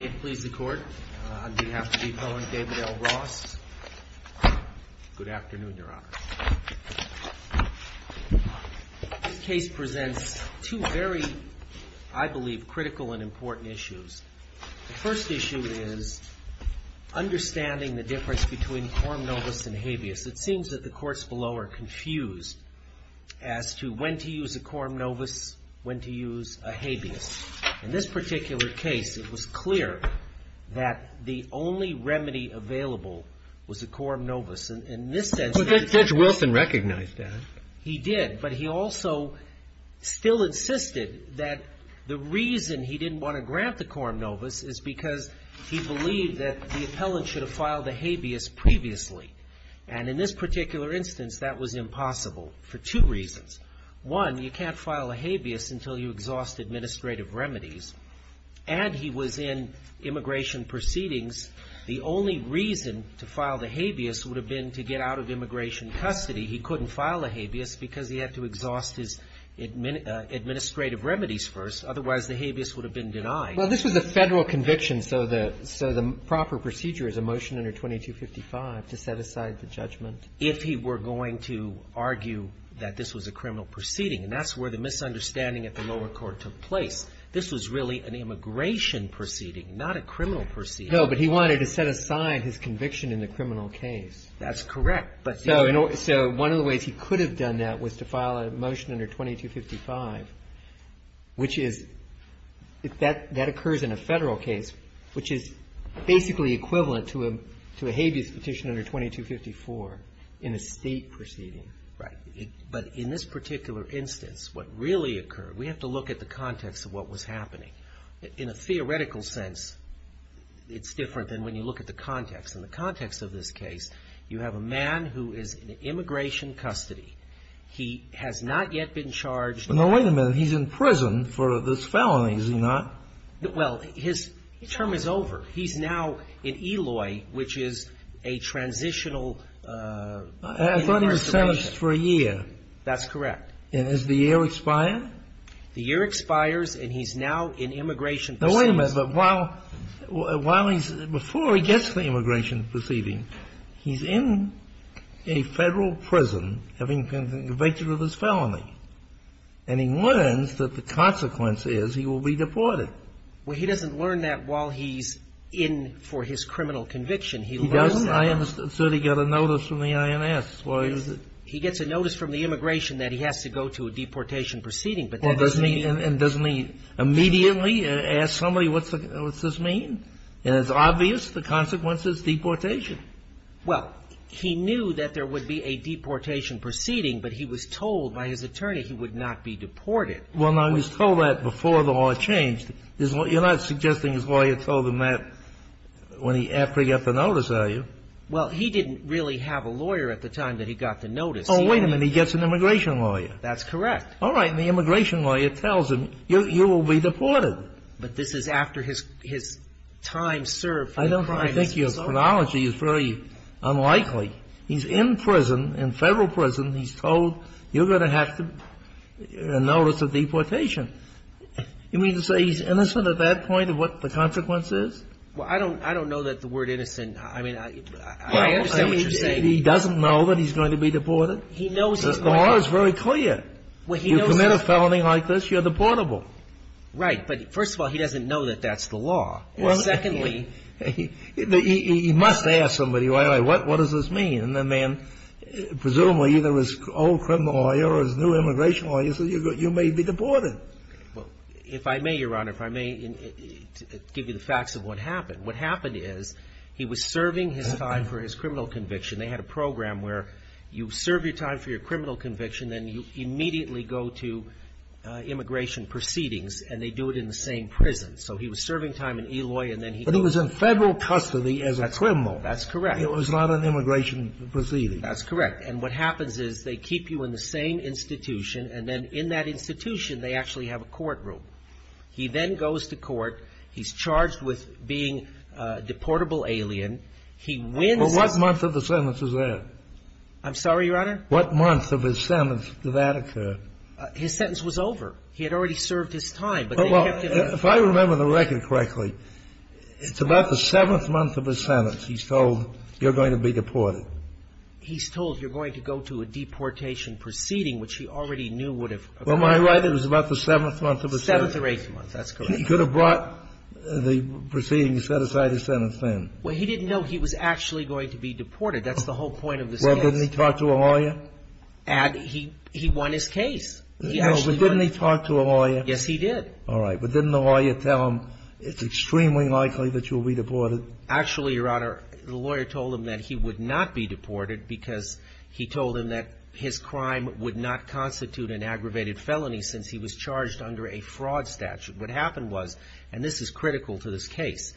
David L. Ross. Good afternoon, Your Honor. This case presents two very, I believe, critical and important issues. The first issue is understanding the difference between quorum novus and habeas. It seems that the courts below are confused as to when to use a quorum novus, when to the only remedy available was a quorum novus. And in this sense the judge – But Judge Wilson recognized that. He did. But he also still insisted that the reason he didn't want to grant the quorum novus is because he believed that the appellant should have filed a habeas previously. And in this particular instance, that was impossible for two reasons. One, you can't file a habeas until you exhaust administrative remedies. And he was in immigration proceedings. The only reason to file the habeas would have been to get out of immigration custody. He couldn't file a habeas because he had to exhaust his administrative remedies first. Otherwise, the habeas would have been denied. Well, this was a Federal conviction, so the proper procedure is a motion under 2255 to set aside the judgment. If he were going to argue that this was a criminal proceeding. And that's where the misunderstanding at the lower court took place. This was really an immigration proceeding, not a criminal proceeding. No, but he wanted to set aside his conviction in the criminal case. That's correct. So one of the ways he could have done that was to file a motion under 2255, which is – that occurs in a Federal case, which is basically equivalent to a habeas petition under 2254 in a State proceeding. Right. But in this particular instance, what really occurred, we have to look at the context of what was happening. In a theoretical sense, it's different than when you look at the context. In the context of this case, you have a man who is in immigration custody. He has not yet been charged. But now wait a minute. He's in prison for this felony, is he not? Well, his term is over. He's now in Eloy, which is a transitional – I thought he was sentenced for a year. That's correct. And does the year expire? The year expires, and he's now in immigration proceedings. Now, wait a minute. But while he's – before he gets to the immigration proceeding, he's in a Federal prison, having been convicted of this felony. And he learns that the consequence is he will be deported. Well, he doesn't learn that while he's in for his criminal conviction. He learns that while he's in. He doesn't? I thought he got a notice from the INS. Why is it? He gets a notice from the immigration that he has to go to a deportation proceeding, but that doesn't mean he – Well, doesn't he immediately ask somebody, what's this mean? And it's obvious. The consequence is deportation. Well, he knew that there would be a deportation proceeding, but he was told by his attorney he would not be deported. Well, now, he was told that before the law changed. You're not suggesting his lawyer told him that when he – after he got the notice, are you? Well, he didn't really have a lawyer at the time that he got the notice. Oh, wait a minute. He gets an immigration lawyer. That's correct. All right. And the immigration lawyer tells him, you will be deported. But this is after his time served for the crime is over. I don't – I think your chronology is very unlikely. He's in prison, in Federal prison. He's told, you're going to have to – a notice of deportation. You mean to say he's innocent at that point of what the consequence is? Well, I don't – I don't know that the word innocent – I mean, I understand what you're saying. Well, he doesn't know that he's going to be deported? He knows he's going to be. The law is very clear. Well, he knows that. You commit a felony like this, you're deportable. Right. But first of all, he doesn't know that that's the law. Well, secondly, he must ask somebody, all right, what does this mean? And the man, presumably either his old criminal lawyer or his new immigration lawyer says, you may be deported. Well, if I may, Your Honor, if I may give you the facts of what happened. What happened is he was serving his time for his criminal conviction. They had a program where you serve your time for your criminal conviction, then you immediately go to immigration proceedings, and they do it in the same prison. So he was serving time in Eloy, and then he – But he was in federal custody as a criminal. That's correct. It was not an immigration proceeding. That's correct. And what happens is they keep you in the same institution, and then in that institution, they actually have a courtroom. He then goes to court. He's charged with being a deportable alien. He wins – Well, what month of the sentence is that? I'm sorry, Your Honor? What month of his sentence did that occur? His sentence was over. He had already served his time. Well, if I remember the record correctly, it's about the seventh month of his sentence he's told you're going to be deported. He's told you're going to go to a deportation proceeding, which he already knew would have occurred. Well, am I right? It was about the seventh month of his sentence. Seventh or eighth month. That's correct. He could have brought the proceedings, set aside his sentence then. Well, he didn't know he was actually going to be deported. That's the whole point of this case. Well, didn't he talk to a lawyer? He won his case. He actually won his case. But didn't he talk to a lawyer? Yes, he did. All right. But didn't the lawyer tell him it's extremely likely that you'll be deported? Actually, Your Honor, the lawyer told him that he would not be deported because he told him that his crime would not constitute an aggravated felony since he was charged under a fraud statute. What happened was, and this is critical to this case,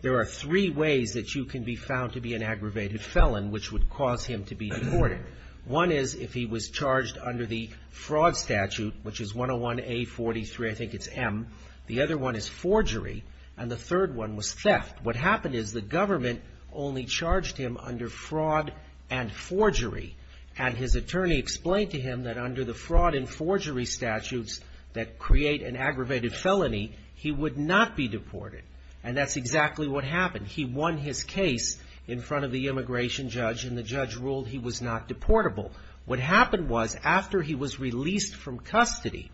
there are three ways that you can be found to be an aggravated felon, which would cause him to be deported. One is if he was charged under the fraud statute, which is 101A43, I think it's M. The other one is forgery. And the third one was theft. What happened is the government only charged him under fraud and forgery. And his attorney explained to him that under the fraud and forgery statutes that create an aggravated felony, he would not be deported. And that's exactly what happened. He won his case in front of the immigration judge, and the judge ruled he was not deportable. What happened was, after he was released from custody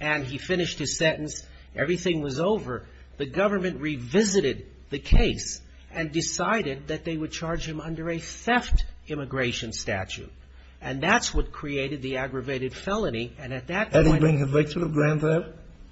and he finished his sentence, everything was over, the government revisited the case and decided that they would charge him under a theft immigration statute. And that's what created the aggravated felony. And at that time... Had he been convicted of grand theft?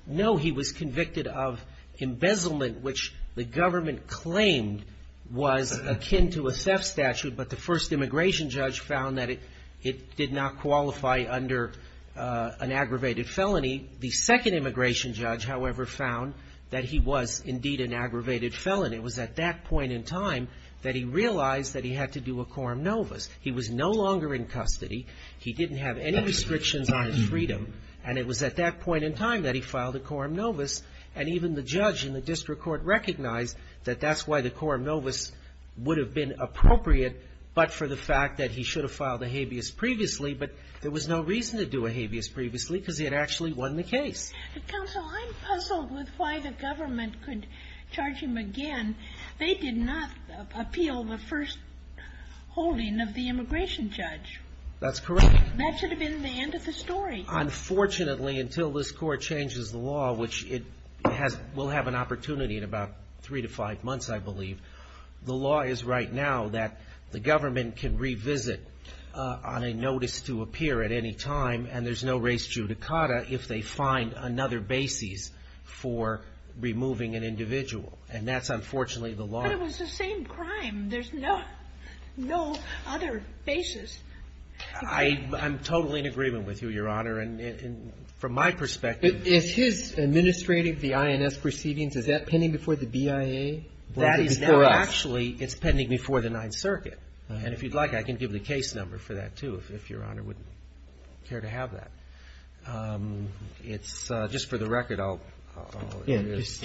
No, he was convicted of embezzlement, which the government claimed was akin to a theft statute. But the first immigration judge found that it did not qualify under an aggravated felony. The second immigration judge, however, found that he was indeed an aggravated felon. It was at that point in time that he realized that he had to do a quorum novis. He was no longer in custody. He didn't have any restrictions on his freedom. And it was at that point in time that he filed a quorum novis. And even the judge in the district court recognized that that's why the quorum novis would have been appropriate, but for the fact that he should have filed a habeas previously. But there was no reason to do a habeas previously, because he had actually won the case. But, counsel, I'm puzzled with why the government could charge him again. They did not appeal the first holding of the immigration judge. That's correct. That should have been the end of the story. Unfortunately, until this court changes the law, which it will have an opportunity in about three to five months, I believe, the law is right now that the government can revisit on a notice to appear at any time, and there's no res judicata if they find another basis for removing an individual. And that's unfortunately the law. But it was the same crime. There's no other basis. I'm totally in agreement with you, Your Honor. And from my perspective. Is his administrative, the INS, proceedings, is that pending before the BIA? That is now actually, it's pending before the Ninth Circuit. And if you'd like, I can give the case number for that, too, if Your Honor would care to have that. It's just for the record, it's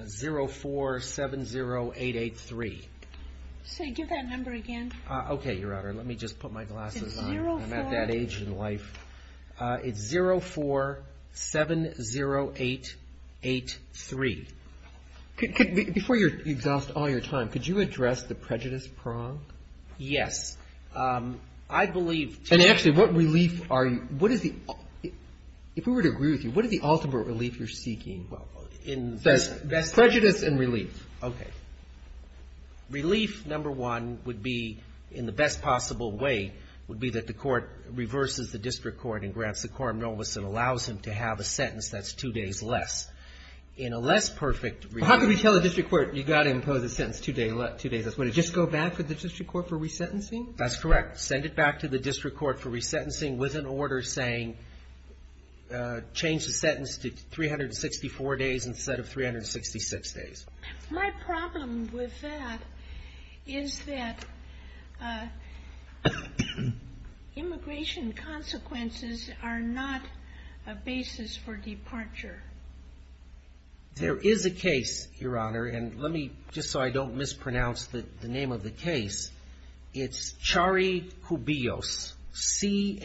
0470883. Say, give that number again. Okay, Your Honor. Let me just put my glasses on. I'm at that age in life. It's 0470883. Before you exhaust all your time, could you address the prejudice prong? Yes. I believe to be. And actually, what relief are you, what is the, if we were to agree with you, what is the ultimate relief you're seeking? Well, in this case. Prejudice and relief. Okay. Relief, number one, would be, in the best possible way, would be that the court reverses the district court and grants the quorum novice and allows him to have a sentence that's two days less. In a less perfect relief. How can we tell the district court, you've got to impose a sentence two days less? Would it just go back to the district court for resentencing? That's correct. Send it back to the district court for resentencing with an order saying, change the sentence to 364 days instead of 366 days. My problem with that is that immigration consequences are not a basis for departure. There is a case, Your Honor, and let me, just so I don't mispronounce the name of the case, it's Charikoubios. C-H-A-R-R-Y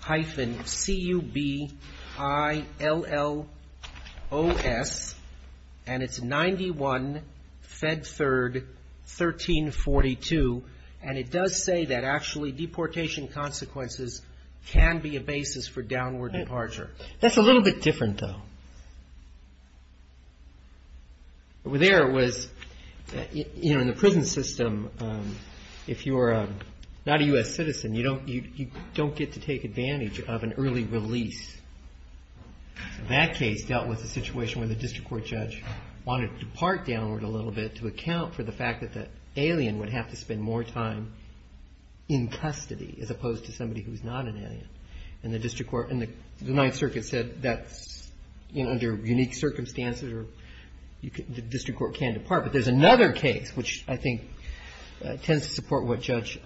hyphen C-U-B-I-L-L-O-S, and it's 91, Fed Third, 1342, and it does say that actually deportation consequences can be a basis for downward departure. That's a little bit different, though. Over there it was, you know, in the prison system, if you're not a U.S. citizen, you don't get to take advantage of an early release. That case dealt with a situation where the district court judge wanted to depart downward a little bit to account for the fact that the alien would have to spend more time in custody as opposed to somebody who's not an alien. And the district court, and the Ninth Circuit said that's, you know, under unique circumstances the district court can't depart. But there's another case which I think tends to support what Judge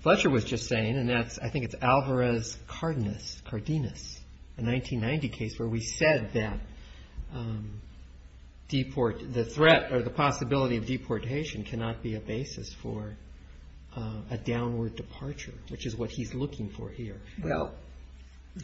Fletcher was just saying, and that's, I think it's Alvarez-Cardenas, a 1990 case where we said that the threat or the possibility of deportation cannot be a basis for a downward departure, which is what he's looking for here. Well,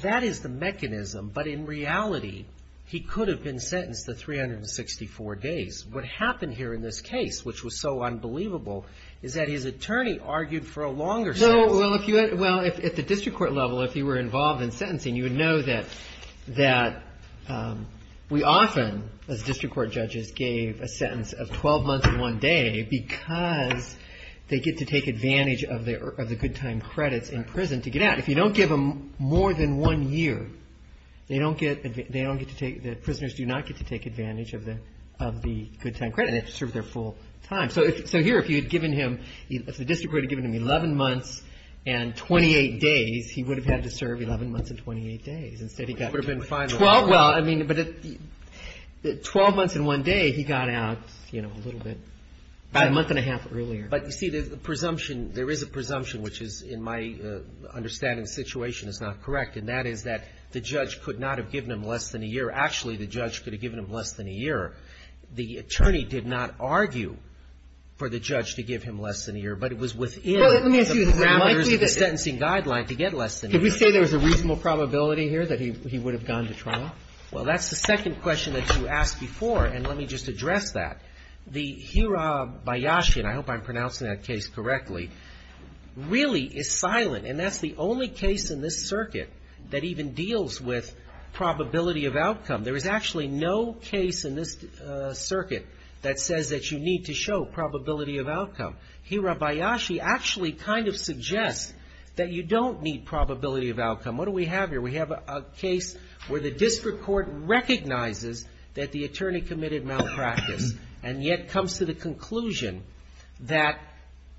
that is the mechanism, but in reality he could have been sentenced to 364 days. What happened here in this case, which was so unbelievable, is that his attorney argued for a longer sentence. Well, at the district court level, if you were involved in sentencing, you would know that we often, as district court judges, gave a sentence of 12 months and one day because they get to take advantage of the good time credits in prison to get out. If you don't give them more than one year, they don't get to take, the prisoners do not get to take advantage of the good time credit. They have to serve their full time. So here if you had given him, if the district court had given him 11 months and 28 days, he would have had to serve 11 months and 28 days. Instead he got 12, well, I mean, but 12 months and one day he got out, you know, a little bit, a month and a half earlier. But, you see, the presumption, there is a presumption, which is, in my understanding of the situation, is not correct, and that is that the judge could not have given him less than a year. Actually, the judge could have given him less than a year. The attorney did not argue for the judge to give him less than a year, but it was within the parameters of the sentencing guideline to get less than a year. Could we say there was a reasonable probability here that he would have gone to trial? Well, that's the second question that you asked before, and let me just address that. The Hirabayashi, and I hope I'm pronouncing that case correctly, really is silent, and that's the only case in this circuit that even deals with probability of outcome. There is actually no case in this circuit that says that you need to show probability of outcome. Hirabayashi actually kind of suggests that you don't need probability of outcome. What do we have here? We have a case where the district court recognizes that the attorney committed malpractice, and yet comes to the conclusion that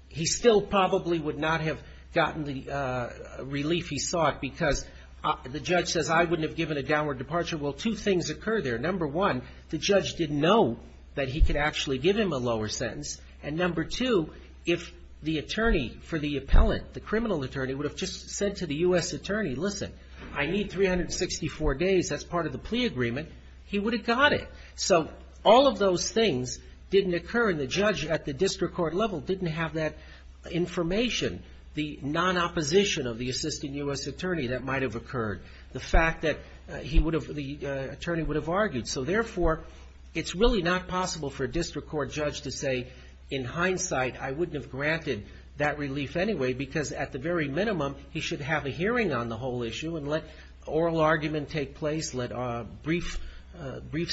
he still probably would not have gotten the relief he sought because the judge says, I wouldn't have given a downward departure. Well, two things occur there. Number one, the judge didn't know that he could actually give him a lower sentence, and number two, if the attorney for the appellant, the criminal attorney, would have just said to the U.S. attorney, listen, I need 364 days. That's part of the plea agreement. He would have got it. So all of those things didn't occur, and the judge at the district court level didn't have that information, the non-opposition of the assistant U.S. attorney that might have occurred, the fact that he would have, the attorney would have argued. So therefore, it's really not possible for a district court judge to say, in hindsight, I wouldn't have granted that relief anyway because at the very minimum, he should have a hearing on the whole issue and let oral argument take place, let briefs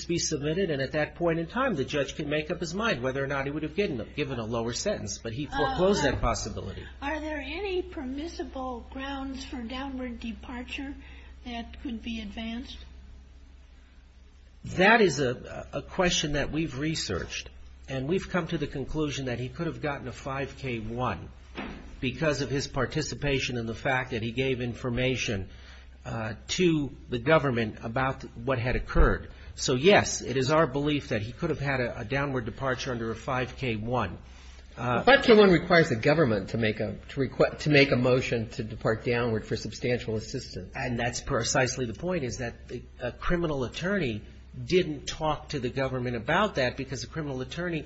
be submitted, and at that point in time, the judge can make up his mind whether or not he would have given a lower sentence. But he foreclosed that possibility. Are there any permissible grounds for downward departure that could be advanced? That is a question that we've researched, and we've come to the conclusion that he could have gotten a 5K1 because of his participation and the fact that he gave information to the government about what had occurred. So, yes, it is our belief that he could have had a downward departure under a 5K1. 5K1 requires the government to make a motion to depart downward for substantial assistance. And that's precisely the point, is that a criminal attorney didn't talk to the government about that because the criminal attorney,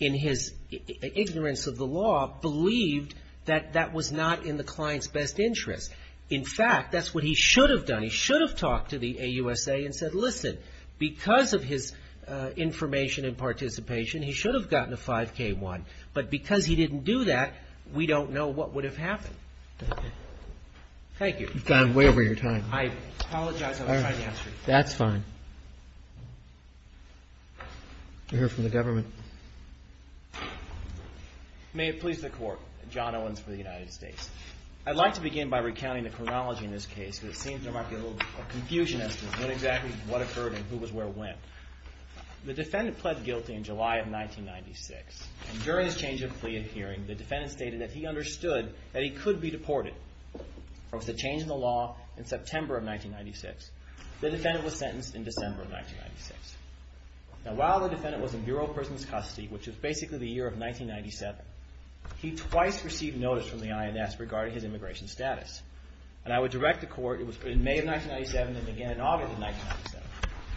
in his ignorance of the law, believed that that was not in the client's best interest. In fact, that's what he should have done. He should have talked to the AUSA and said, listen, because of his information and participation, he should have gotten a 5K1. But because he didn't do that, we don't know what would have happened. Thank you. You've gone way over your time. I apologize. That's fine. We'll hear from the government. May it please the Court. John Owens for the United States. I'd like to begin by recounting the chronology in this case, because it seems there might be a little confusion as to what exactly occurred and who was where when. The defendant pled guilty in July of 1996. And during his change of plea in hearing, the defendant stated that he understood that he could be deported. There was a change in the law in September of 1996. The defendant was sentenced in December of 1996. Now, while the defendant was in Bureau of Prison's custody, which is basically the year of 1997, he twice received notice from the INS regarding his immigration status. And I would direct the Court, it was in May of 1997 and again in August of 1997,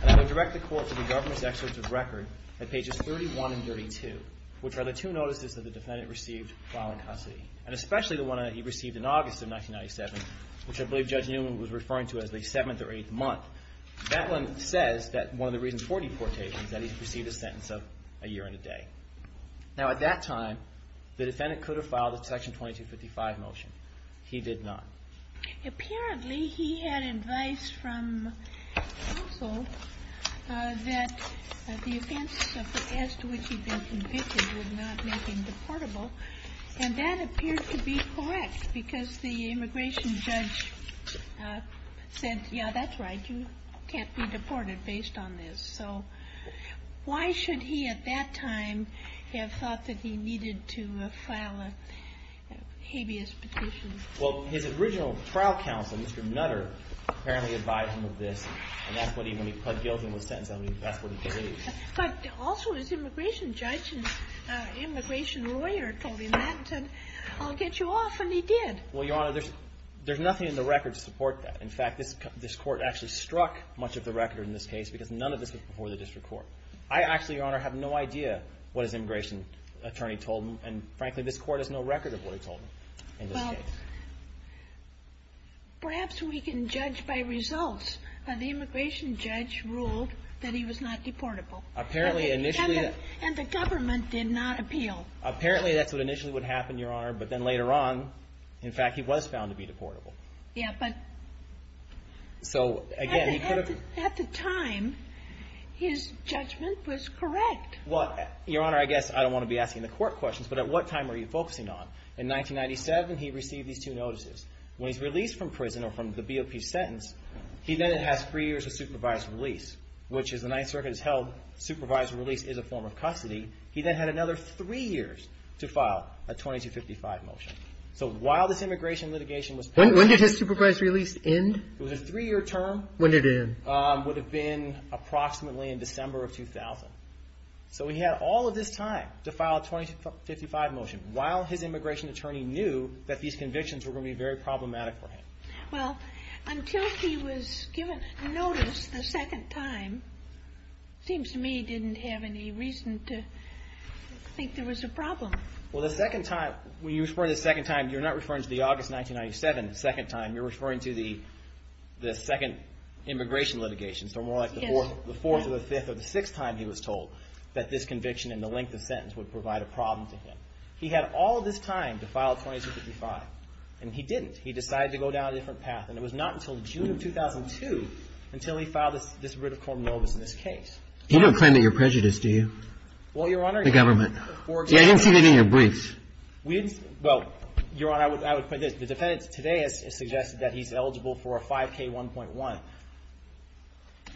and I would direct the Court to the government's excerpts of record at pages 31 and 32, which are the two notices that the defendant received while in custody, and especially the one that he received in August of 1997, which I believe Judge Newman was referring to as the seventh or eighth month. That one says that one of the reasons for deportation is that he received a sentence of a year and a day. Now, at that time, the defendant could have filed a Section 2255 motion. He did not. Apparently, he had advice from counsel that the offense as to which he'd been convicted would not make him deportable. And that appeared to be correct because the immigration judge said, yeah, that's right, you can't be deported based on this. So why should he at that time have thought that he needed to file a habeas petition? Well, his original trial counsel, Mr. Nutter, apparently advised him of this, and that's what he, when he pled guilty and was sentenced, that's what he believed. But also his immigration judge and immigration lawyer told him that and said, I'll get you off, and he did. Well, Your Honor, there's nothing in the record to support that. In fact, this court actually struck much of the record in this case because none of this was before the district court. I actually, Your Honor, have no idea what his immigration attorney told him, and frankly, this court has no record of what he told him in this case. Perhaps we can judge by results. The immigration judge ruled that he was not deportable. Apparently initially... And the government did not appeal. Apparently that's what initially would happen, Your Honor, but then later on, in fact, he was found to be deportable. Yeah, but... So, again... At the time, his judgment was correct. Well, Your Honor, I guess I don't want to be asking the court questions, but at what time were you focusing on? In 1997, he received these two notices. When he's released from prison or from the BOP sentence, he then has three years of supervised release, which as the Ninth Circuit has held, supervised release is a form of custody. He then had another three years to file a 2255 motion. So while this immigration litigation was... When did his supervised release end? It was a three-year term. When did it end? Would have been approximately in December of 2000. So he had all of this time to file a 2255 motion. While his immigration attorney knew that these convictions were going to be very problematic for him. Well, until he was given notice the second time, it seems to me he didn't have any reason to think there was a problem. Well, the second time... When you refer to the second time, you're not referring to the August 1997 second time. You're referring to the second immigration litigation. So more like the fourth or the fifth or the sixth time he was told that this conviction and the length of sentence would provide a problem to him. He had all of this time to file a 2255. And he didn't. He decided to go down a different path. And it was not until June of 2002 until he filed this writ of cordon novus in this case. You don't claim that you're prejudiced, do you? Well, Your Honor... The government. I didn't see that in your briefs. Well, Your Honor, I would point this. The defendant today has suggested that he's eligible for a 5K1.1.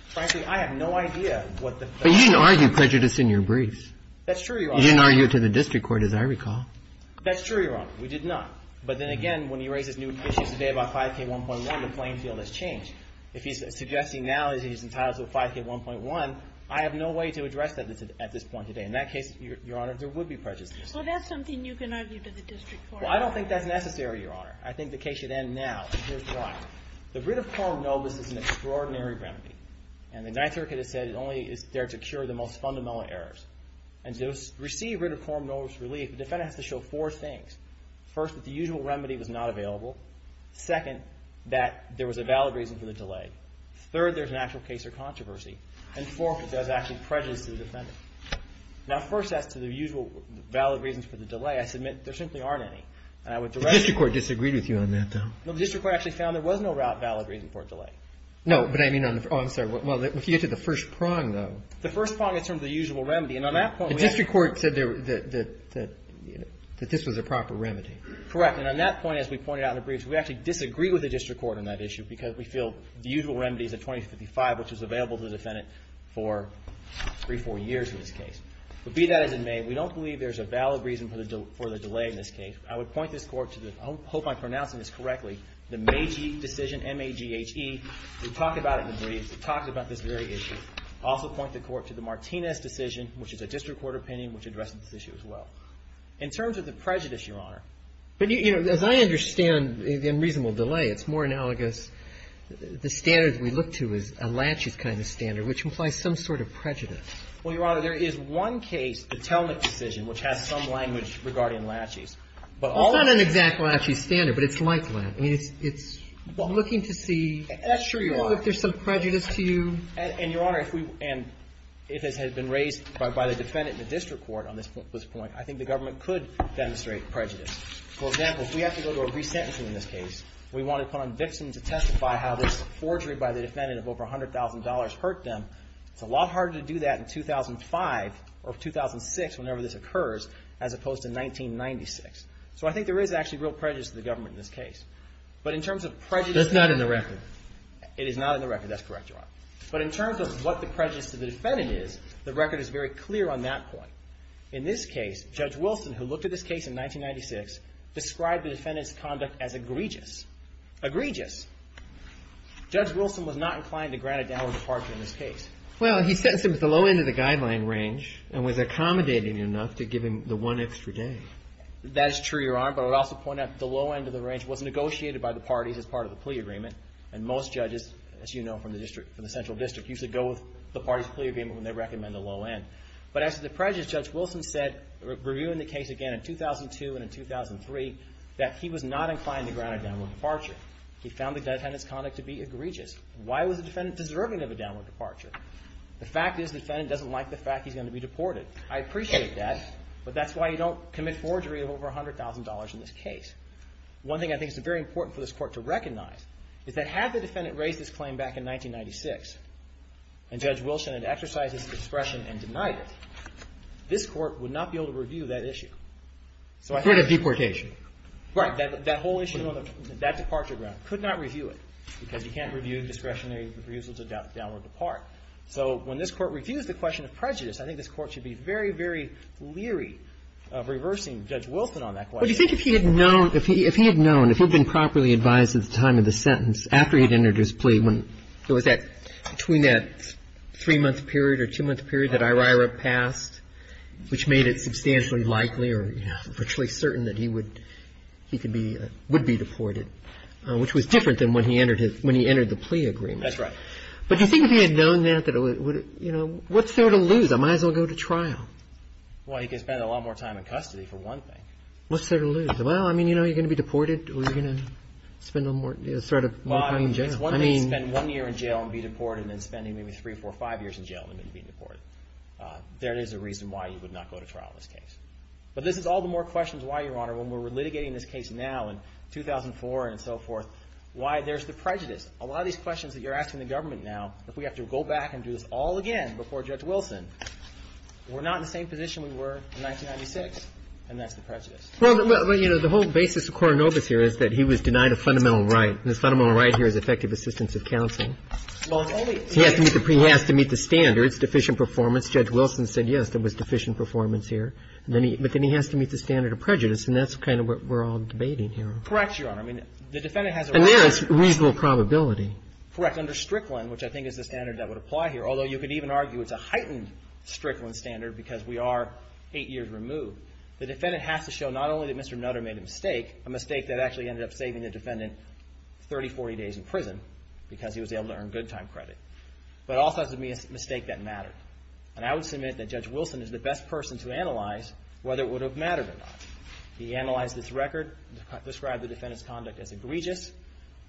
Frankly, I have no idea what the... But you didn't argue prejudice in your briefs. That's true, Your Honor. You didn't argue it to the district court, as I recall. That's true, Your Honor. We did not. But then again, when he raises new issues today about 5K1.1, the playing field has changed. If he's suggesting now that he's entitled to a 5K1.1, I have no way to address that at this point today. In that case, Your Honor, there would be prejudice. Well, that's something you can argue to the district court. Well, I don't think that's necessary, Your Honor. I think the case should end now. And here's why. The writ of cordon novus is an extraordinary remedy. And the Ninth Circuit has said it only is there to cure the most fundamental errors. And to receive writ of cordon novus relief, the defendant has to show four things. First, that the usual remedy was not available. Second, that there was a valid reason for the delay. Third, there's an actual case of controversy. And fourth, it does actually prejudice to the defendant. Now, first, as to the usual valid reasons for the delay, I submit there simply aren't any. And I would direct... The district court disagreed with you on that, though. No, the district court actually found there was no valid reason for a delay. No, but I mean on the... Oh, I'm sorry. Well, if you get to the first prong, though... The first prong in terms of the usual remedy. And on that point... The district court said that this was a proper remedy. Correct. And on that point, as we pointed out in the briefs, we actually disagree with the district court on that issue because we feel the usual remedy is a 2055, which was available to the defendant for three, four years in this case. But be that as it may, we don't believe there's a valid reason for the delay in this case. I would point this Court to the... I hope I'm pronouncing this correctly. The Magee decision, M-A-G-E-H-E. We talked about it in the briefs. We talked about this very issue. I also point the Court to the Martinez decision, which is a district court opinion, which addressed this issue as well. In terms of the prejudice, Your Honor... But, you know, as I understand the unreasonable delay, it's more analogous. The standard we look to is a laches kind of standard, which implies some sort of prejudice. Well, Your Honor, there is one case, the Telnick decision, which has some language regarding laches. But all... It's not an exact laches standard, but it's like laches. I mean, it's looking to see... That's true, Your Honor. ...if there's some prejudice to you. And, Your Honor, if we... And if this had been raised by the defendant in the district court on this point, I think the government could demonstrate prejudice. For example, if we have to go to a resentencing in this case, we want to put on vixen to testify how this forgery by the defendant of over $100,000 hurt them, it's a lot harder to do that in 2005 or 2006, whenever this occurs, as opposed to 1996. So I think there is actually real prejudice to the government in this case. But in terms of prejudice... That's not in the record. It is not in the record. That's correct, Your Honor. But in terms of what the prejudice to the defendant is, the record is very clear on that point. In this case, Judge Wilson, who looked at this case in 1996, described the defendant's conduct as egregious. Egregious. Judge Wilson was not inclined to grant a downward departure in this case. Well, he sentenced him to the low end of the guideline range and was accommodating enough to give him the one extra day. That is true, Your Honor. But I would also point out that the low end of the range was negotiated by the parties as part of the plea agreement. And most judges, as you know from the central district, used to go with the parties' plea agreement when they recommend a low end. But as to the prejudice, Judge Wilson said, reviewing the case again in 2002 and in 2003, that he was not inclined to grant a downward departure. He found the defendant's conduct to be egregious. Why was the defendant deserving of a downward departure? The fact is the defendant doesn't like the fact he's going to be deported. I appreciate that. But that's why you don't commit forgery of over $100,000 in this case. One thing I think is very important for this Court to recognize is that had the defendant raised this claim back in 1996, and Judge Wilson had exercised his discretion and denied it, this Court would not be able to review that issue. So I think that the whole issue of that departure ground could not review it because you can't review discretionary reusals of downward depart. So when this Court reviews the question of prejudice, I think this Court should be very, very leery of reversing Judge Wilson on that question. Well, do you think if he had known, if he had known, if he had been properly advised at the time of the sentence, after he'd entered his plea, when there was that, between that three-month period or two-month period that IRIRA passed, which made it substantially likely or, you know, virtually certain that he would, he could be, would be deported, which was different than when he entered his, when he entered the plea agreement. That's right. But do you think if he had known that, that it would, you know, what's there to lose? I might as well go to trial. Well, he could spend a lot more time in custody, for one thing. What's there to lose? Well, I mean, you know, you're going to be deported or you're going to spend a little more, you know, spend a little more time in jail. Well, it's one thing to spend one year in jail and be deported and then spending maybe three, four, five years in jail and then being deported. There is a reason why you would not go to trial in this case. But this is all the more questions why, Your Honor, when we're litigating this case now in 2004 and so forth, why there's the prejudice. A lot of these questions that you're asking the government now, if we have to go back and do this all again before Judge Wilson, we're not in the same position we were in 1996, and that's the prejudice. Well, but, you know, the whole basis of Coronobus here is that he was denied a fundamental right. And his fundamental right here is effective assistance of counsel. Well, it's only to meet the standards. He has to meet the standards, deficient performance. Judge Wilson said, yes, there was deficient performance here. But then he has to meet the standard of prejudice. And that's kind of what we're all debating here. Correct, Your Honor. I mean, the defendant has a right. And there it's reasonable probability. Correct. Under Strickland, which I think is the standard that would apply here, although you could even argue it's a heightened Strickland standard because we are eight years removed, the defendant has to show not only that Mr. Nutter made a mistake, a mistake that actually ended up saving the defendant 30, 40 days in prison because he was able to earn good time credit, but also has to be a mistake that mattered. And I would submit that Judge Wilson is the best person to analyze whether it would have mattered or not. He analyzed this record, described the defendant's conduct as egregious,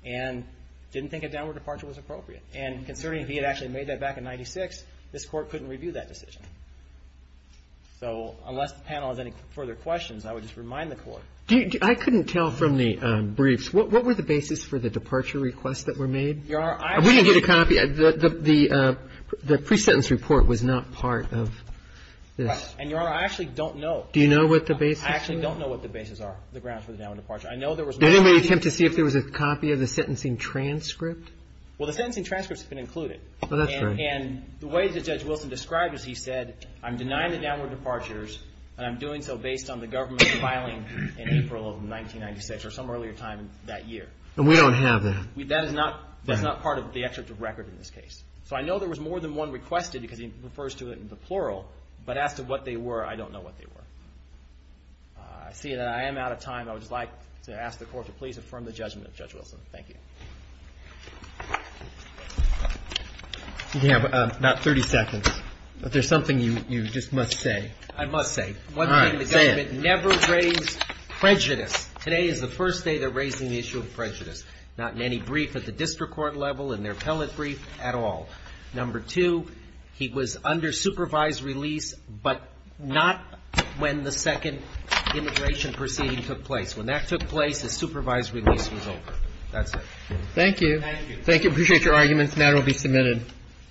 and didn't think a downward departure was appropriate. And considering he had actually made that back in 1996, this Court couldn't review that decision. So unless the panel has any further questions, I would just remind the Court. I couldn't tell from the briefs. What were the basis for the departure requests that were made? Your Honor, I actually don't know. We didn't get a copy. The pre-sentence report was not part of this. And, Your Honor, I actually don't know. Do you know what the basis? I actually don't know what the basis are, the grounds for the downward departure. I know there was more than one. Did anybody attempt to see if there was a copy of the sentencing transcript? Well, the sentencing transcript has been included. Oh, that's great. And the way that Judge Wilson described it is he said, I'm denying the downward departures, and I'm doing so based on the government filing in April of 1996 or some earlier time that year. And we don't have that. That is not part of the excerpt of record in this case. So I know there was more than one requested because he refers to it in the plural, but as to what they were, I don't know what they were. I see that I am out of time. I would just like to ask the Court to please affirm the judgment of Judge Wilson. Thank you. You have about 30 seconds. But there's something you just must say. I must say. All right. Say it. One thing, the government never raised prejudice. Today is the first day they're raising the issue of prejudice, not in any brief at the district court level, in their appellate brief, at all. Number two, he was under supervised release, but not when the second immigration proceeding took place. When that took place, his supervised release was over. That's it. Thank you. Thank you. Appreciate your arguments. The matter will be submitted.